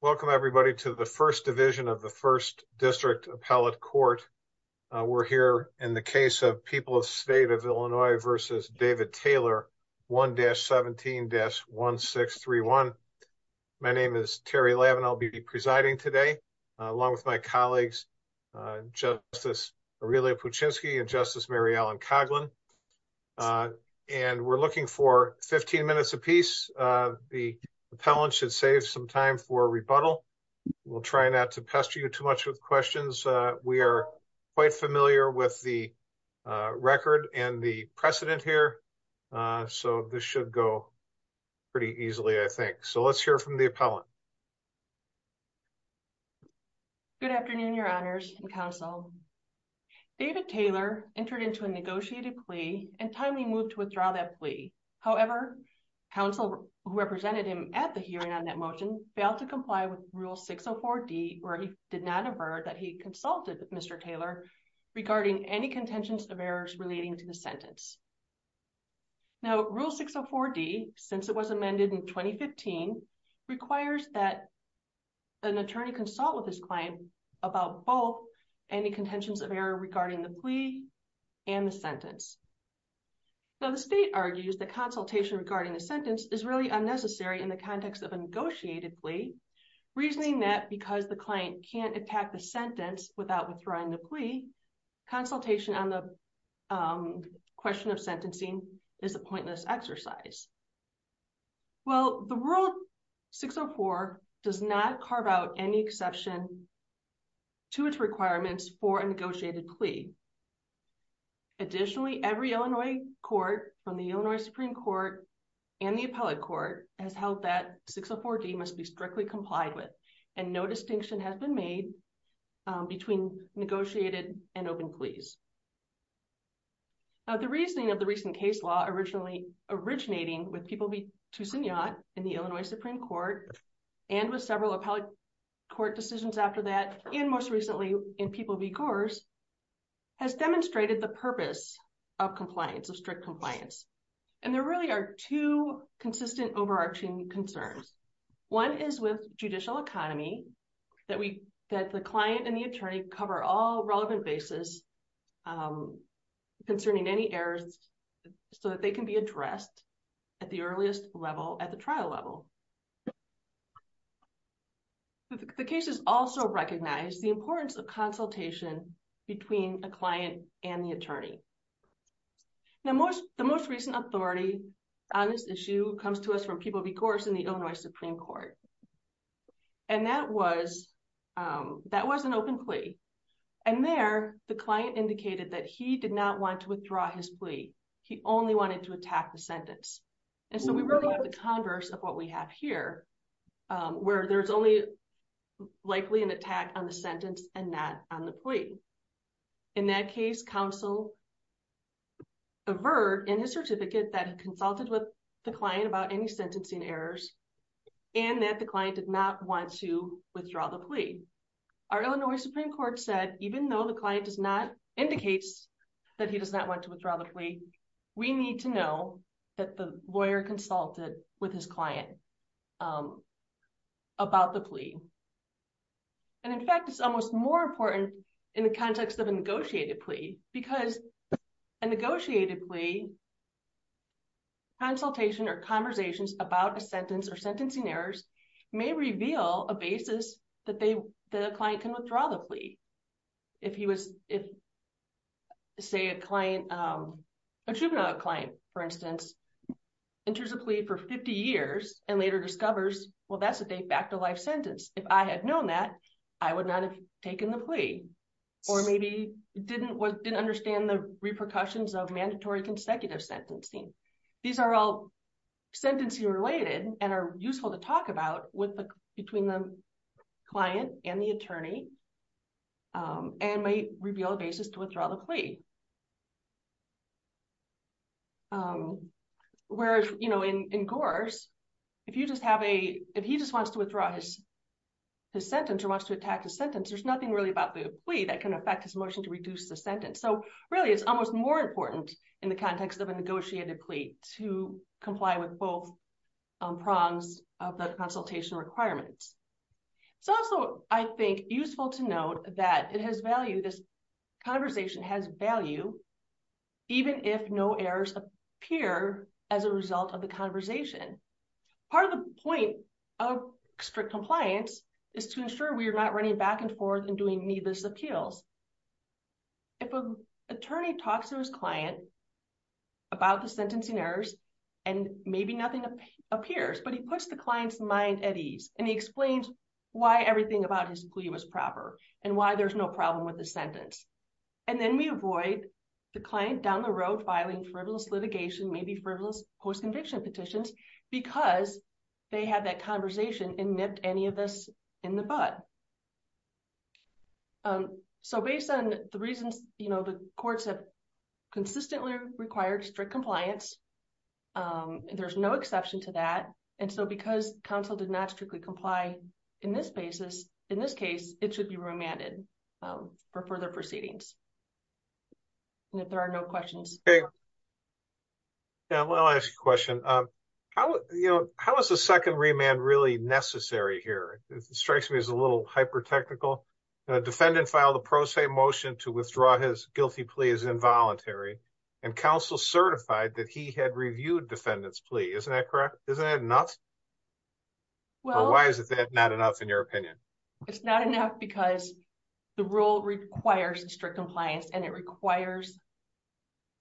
Welcome everybody to the 1st division of the 1st district appellate court. We're here in the case of people of state of Illinois versus David Taylor. 1 dash 17 dash 1, 6, 3, 1. My name is Terry lab, and I'll be presiding today. Along with my colleagues, just this. And we're looking for 15 minutes a piece. The appellant should save some time for rebuttal. We'll try not to pester you too much with questions. We are. Quite familiar with the record and the precedent here. So, this should go pretty easily. I think so. Let's hear from the appellant. Good afternoon, your honors and counsel. David Taylor entered into a negotiated plea and timely moved to withdraw that plea. However. Council represented him at the hearing on that motion failed to comply with rule 6 or 4 D, or he did not have heard that. He consulted Mr. Taylor. Regarding any contentions of errors relating to the sentence. Now, rule 6 or 4 D, since it was amended in 2015 requires that. An attorney consult with his client about both. Any contentions of error regarding the plea and the sentence. So, the state argues the consultation regarding the sentence is really unnecessary in the context of a negotiated plea. Reasoning that because the client can't attack the sentence without withdrawing the plea. Consultation on the question of sentencing is a pointless exercise. Well, the world 6 or 4 does not carve out any exception. To its requirements for a negotiated plea. Additionally, every Illinois court from the Illinois Supreme Court. And the appellate court has held that 6 or 4 D must be strictly complied with and no distinction has been made. Between negotiated and open please. Now, the reasoning of the recent case law originally originating with people in the Illinois Supreme Court. And with several appellate court decisions after that, and most recently in people because. Has demonstrated the purpose of compliance of strict compliance. And there really are 2 consistent overarching concerns. 1 is with judicial economy that we that the client and the attorney cover all relevant basis. Concerning any errors. So that they can be addressed at the earliest level at the trial level. The case is also recognize the importance of consultation. Between a client and the attorney. Now, most the most recent authority on this issue comes to us from people because in the Illinois Supreme Court. And that was, um, that was an open plea. And there, the client indicated that he did not want to withdraw his plea. He only wanted to attack the sentence and so we really have the converse of what we have here. Where there's only likely an attack on the sentence and not on the plea. In that case, counsel. Avert in his certificate that he consulted with the client about any sentencing errors. And that the client did not want to withdraw the plea. Our Illinois Supreme Court said, even though the client does not indicates that he does not want to withdraw the plea. We need to know that the lawyer consulted with his client. About the plea, and in fact, it's almost more important in the context of a negotiated plea because. Negotiated plea consultation or conversations about a sentence or sentencing errors may reveal a basis that they, the client can withdraw the plea. If he was, if say a client. A juvenile client, for instance, enters a plea for 50 years and later discovers, well, that's a date back to life sentence. If I had known that I would not have taken the plea. Or maybe didn't didn't understand the repercussions of mandatory consecutive sentencing. These are all sentencing related and are useful to talk about with the between the. Client and the attorney and may reveal a basis to withdraw the plea. Whereas, you know, in course. If you just have a, if he just wants to withdraw his. The sentence or wants to attack the sentence, there's nothing really about the plea that can affect his motion to reduce the sentence. So really, it's almost more important in the context of a negotiated plea to comply with both. Prongs of the consultation requirements. It's also, I think, useful to note that it has value. This. Conversation has value, even if no errors appear as a result of the conversation. Part of the point of strict compliance is to ensure we are not running back and forth and doing needless appeals. If an attorney talks to his client. About the sentencing errors, and maybe nothing appears, but he puts the client's mind at ease and he explains. Why everything about his plea was proper and why there's no problem with the sentence. And then we avoid the client down the road, filing frivolous litigation, maybe frivolous post conviction petitions because. They have that conversation and nipped any of this in the bud. So, based on the reasons, you know, the courts have. Consistently required strict compliance, and there's no exception to that. And so, because counsel did not strictly comply in this basis, in this case, it should be remanded. Um, for further proceedings, and if there are no questions. Yeah, well, I'll ask you a question. You know, how is the 2nd remand really necessary here? It strikes me as a little hyper technical. Defendant file the pro se motion to withdraw his guilty plea is involuntary. And counsel certified that he had reviewed defendants plea. Isn't that correct? Isn't that enough? Well, why is it that not enough in your opinion? It's not enough because the rule requires strict compliance and it requires.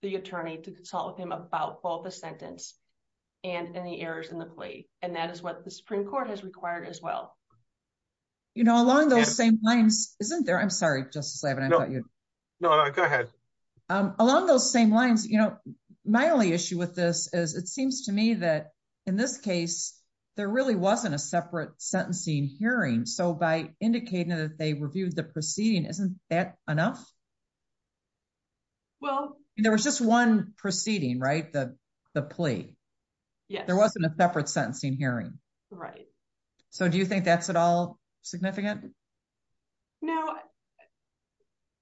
The attorney to consult with him about both the sentence. And in the errors in the plea, and that is what the Supreme Court has required as well. You know, along those same lines, isn't there? I'm sorry just to say, but I thought you. No, go ahead along those same lines. You know, my only issue with this is it seems to me that. In this case, there really wasn't a separate sentencing hearing. So, by indicating that they reviewed the proceeding, isn't that enough? Well, there was just 1 proceeding, right? The, the plea. Yeah, there wasn't a separate sentencing hearing. Right? So do you think that's at all significant? No,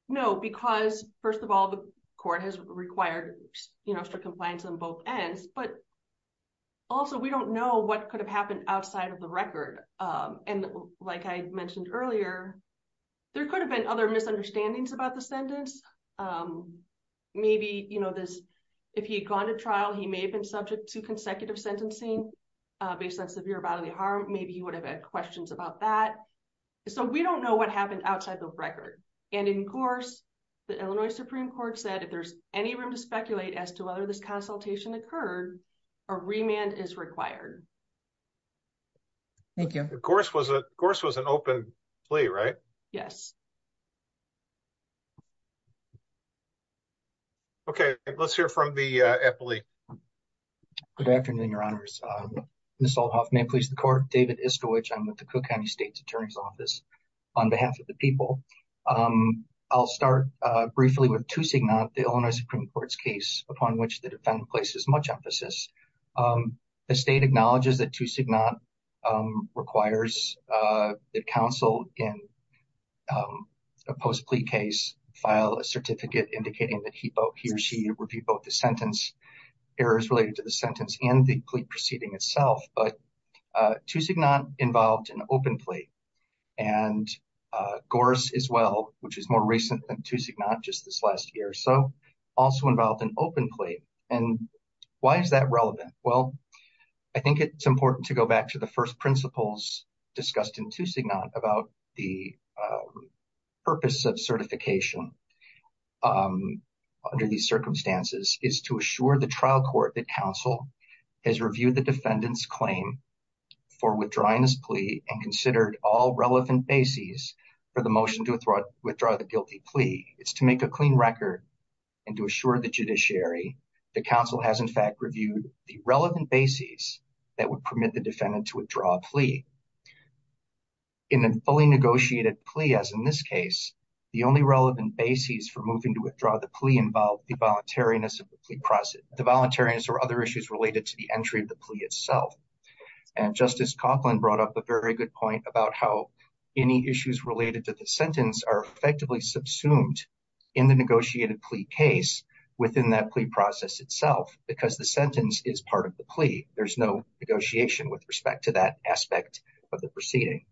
no, because 1st of all, the court has required strict compliance on both ends, but. Also, we don't know what could have happened outside of the record. And like I mentioned earlier. There could have been other misunderstandings about the sentence. Um, maybe, you know, this. If he had gone to trial, he may have been subject to consecutive sentencing. Based on severe bodily harm, maybe he would have had questions about that. So, we don't know what happened outside the record. And in course. The Illinois Supreme Court said if there's any room to speculate as to whether this consultation occurred. A remand is required. Thank you, of course, was, of course, was an open play, right? Yes. Okay, let's hear from the. Good afternoon. Your honors may please the court. David is to which I'm with the Cook County State's attorney's office. On behalf of the people, I'll start briefly with 2, not the Illinois Supreme Court's case upon which the defendant places much emphasis. The state acknowledges that 2, not requires the council in. A post plea case file a certificate indicating that he or she would be both the sentence. Errors related to the sentence and the plea proceeding itself. But 2, not involved in open plea. And course as well, which is more recent than 2, not just this last year. So also involved in open plea. And why is that relevant? Well, I think it's important to go back to the 1st principles discussed in 2, not about the. Purpose of certification. Under these circumstances is to assure the trial court that council has reviewed the defendant's claim. For withdrawing this plea and considered all relevant bases for the motion to withdraw the guilty plea. It's to make a clean record and to assure the judiciary. The council has, in fact, reviewed the relevant bases that would permit the defendant to withdraw a plea. In a fully negotiated plea, as in this case. The only relevant bases for moving to withdraw the plea involved the voluntariness of the plea process. The voluntariness or other issues related to the entry of the plea itself. And Justice Copeland brought up a very good point about how. Any issues related to the sentence are effectively subsumed in the negotiated plea case. Within that plea process itself, because the sentence is part of the plea. There's no negotiation with respect to that aspect of the proceeding.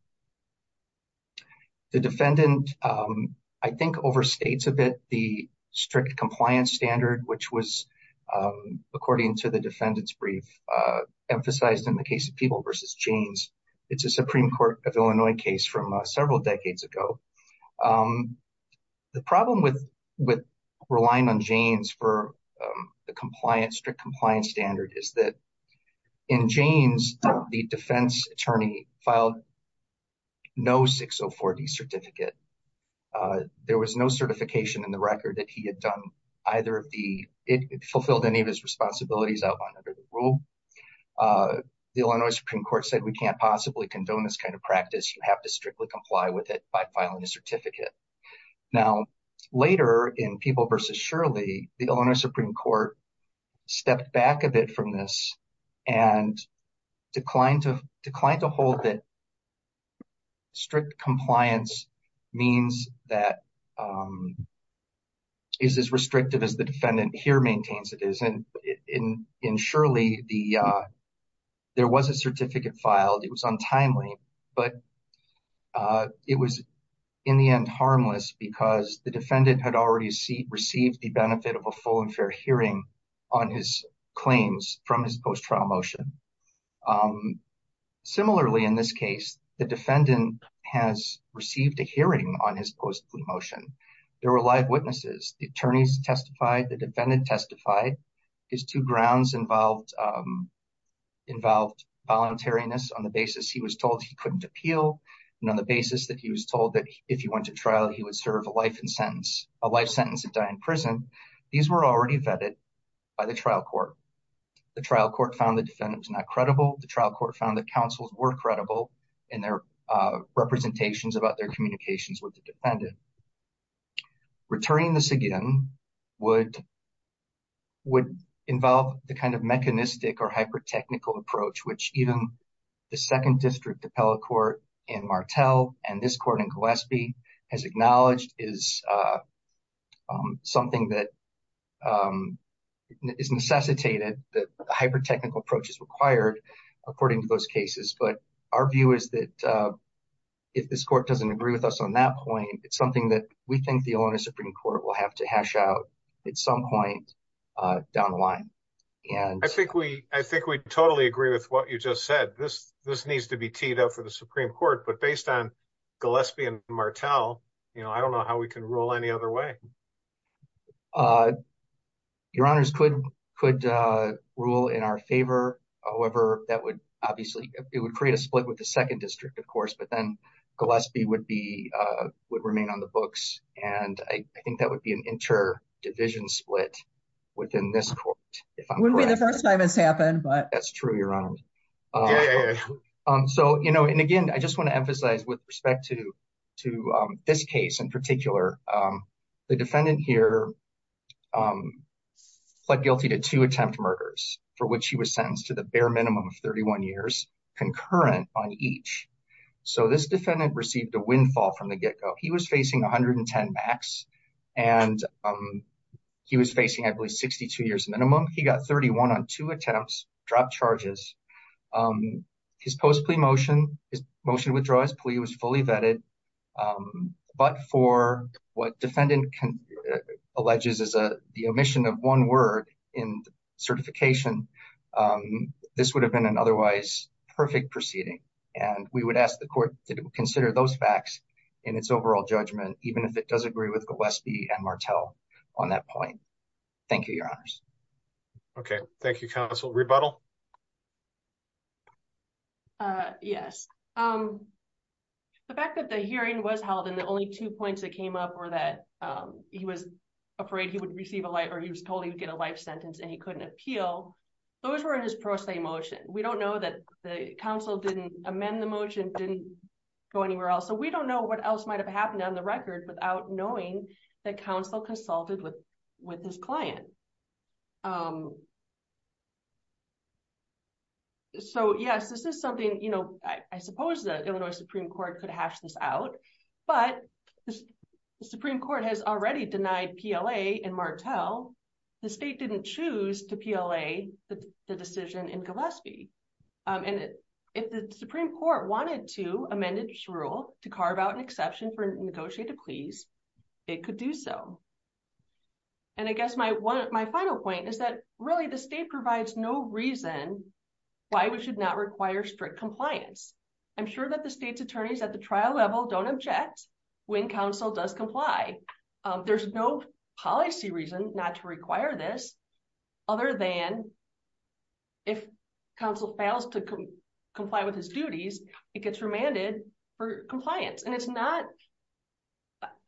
The defendant, I think, overstates a bit the strict compliance standard, which was. According to the defendant's brief emphasized in the case of people versus genes. It's a Supreme Court of Illinois case from several decades ago. The problem with relying on Janes for the strict compliance standard is that. In Janes, the defense attorney filed. No 604 D certificate. There was no certification in the record that he had done either of the. It fulfilled any of his responsibilities outlined under the rule. The Illinois Supreme Court said we can't possibly condone this kind of practice. You have to strictly comply with it by filing a certificate. Now, later in people versus Shirley, the Illinois Supreme Court. Stepped back a bit from this and declined to decline to hold that. Strict compliance means that. Is as restrictive as the defendant here maintains it is. In in Shirley, the. There was a certificate filed. It was untimely, but. It was in the end harmless because the defendant had already received the benefit of a full and fair hearing on his claims from his post trial motion. Similarly, in this case, the defendant has received a hearing on his post motion. There were live witnesses. The attorneys testified, the defendant testified. His two grounds involved. Involved voluntariness on the basis he was told he couldn't appeal. And on the basis that he was told that if he went to trial, he would serve a life in sentence, a life sentence and die in prison. These were already vetted by the trial court. The trial court found the defendant was not credible. The trial court found that counsels were credible in their representations about their communications with the defendant. Returning this again would. Would involve the kind of mechanistic or hyper technical approach, which even the second district appellate court in Martel and this court in Gillespie has acknowledged is. Something that. Is necessitated that hyper technical approaches required, according to those cases, but our view is that. If this court doesn't agree with us on that point, it's something that we think the owner Supreme Court will have to hash out at some point down the line, and I think we I think we totally agree with what you just said. This this needs to be teed up for the Supreme Court, but based on Gillespie and Martel, you know, I don't know how we can rule any other way. Your honors could could rule in our favor. However, that would obviously it would create a split with the second district, of course, but then Gillespie would be would remain on the books, and I think that would be an interdivision split within this court. If I would be the first time has happened, but that's true, your honor. So you know, and again, I just want to emphasize with respect to to this case in particular, the defendant here. Pled guilty to two attempt murders for which he was sentenced to the bare minimum of 31 years, concurrent on each. So this defendant received a windfall from the get-go. He was facing 110 max, and he was facing, I believe, 62 years minimum. He got 31 on two attempts, dropped charges. His post plea motion, his motion to withdraw his plea was fully vetted, but for what defendant alleges as a the omission of one word in certification, this would have been an otherwise perfect proceeding, and we would ask the court to consider those facts in its overall judgment, even if it does agree with Gillespie and Martel on that point. Thank you, your honors. Okay, thank you, counsel. Rebuttal. Yes, the fact that the hearing was held and the only two points that came up were that he was afraid he would receive a life or he was told he would get a life sentence and he couldn't appeal. Those were in his pro se motion. We don't know that the counsel didn't amend the motion, didn't go anywhere else. So we don't know what else might have happened on the record without knowing that counsel consulted with his client. So yes, this is something, you know, I suppose the Illinois Supreme Court could hash this out, but the Supreme Court has already denied PLA and Martel. The state didn't choose to PLA the decision in Gillespie, and if the Supreme Court wanted to amend its rule to carve out an exception for negotiated pleas, it could do so. And I guess my final point is that really the state provides no reason why we should not require strict compliance. I'm sure that the state's attorneys at the trial level don't object when counsel does comply. There's no policy reason not to require this other than if counsel fails to comply with his duties, it gets remanded for compliance. And it's not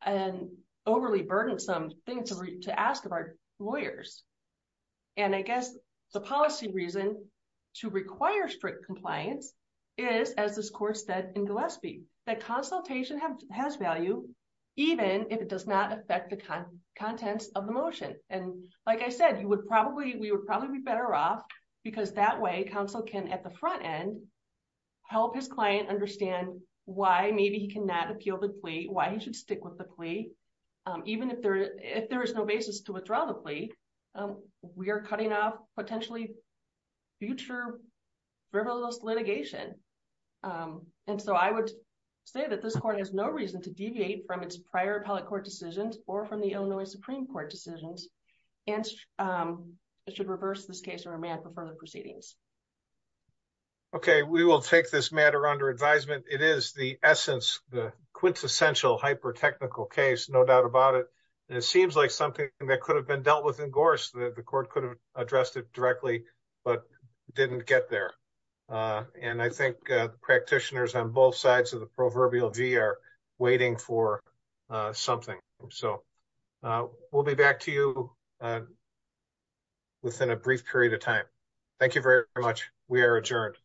an overly burdensome thing to ask of our lawyers. And I guess the policy reason to require strict compliance is, as this court said in Gillespie, that consultation has value even if it does not affect the contents of the motion. And like I said, we would probably be better off because that way counsel can, at the front end, help his client understand why maybe he cannot appeal the plea, why he should stick with the plea. Even if there is no basis to withdraw the plea, we are cutting off potentially future frivolous litigation. And so I would say that this court has no reason to deviate from its prior appellate court decisions or from the Illinois Supreme Court decisions and should reverse this case or remand for further proceedings. Okay, we will take this matter under advisement. It is the essence, the quintessential hyper-technical case, no doubt about it. And it seems like something that could have been dealt with in Gorse. The court could have addressed it directly but didn't get there. And I think the practitioners on both sides of the proverbial V are waiting for something. So we'll be back to you within a brief period of time. Thank you very much. We are adjourned.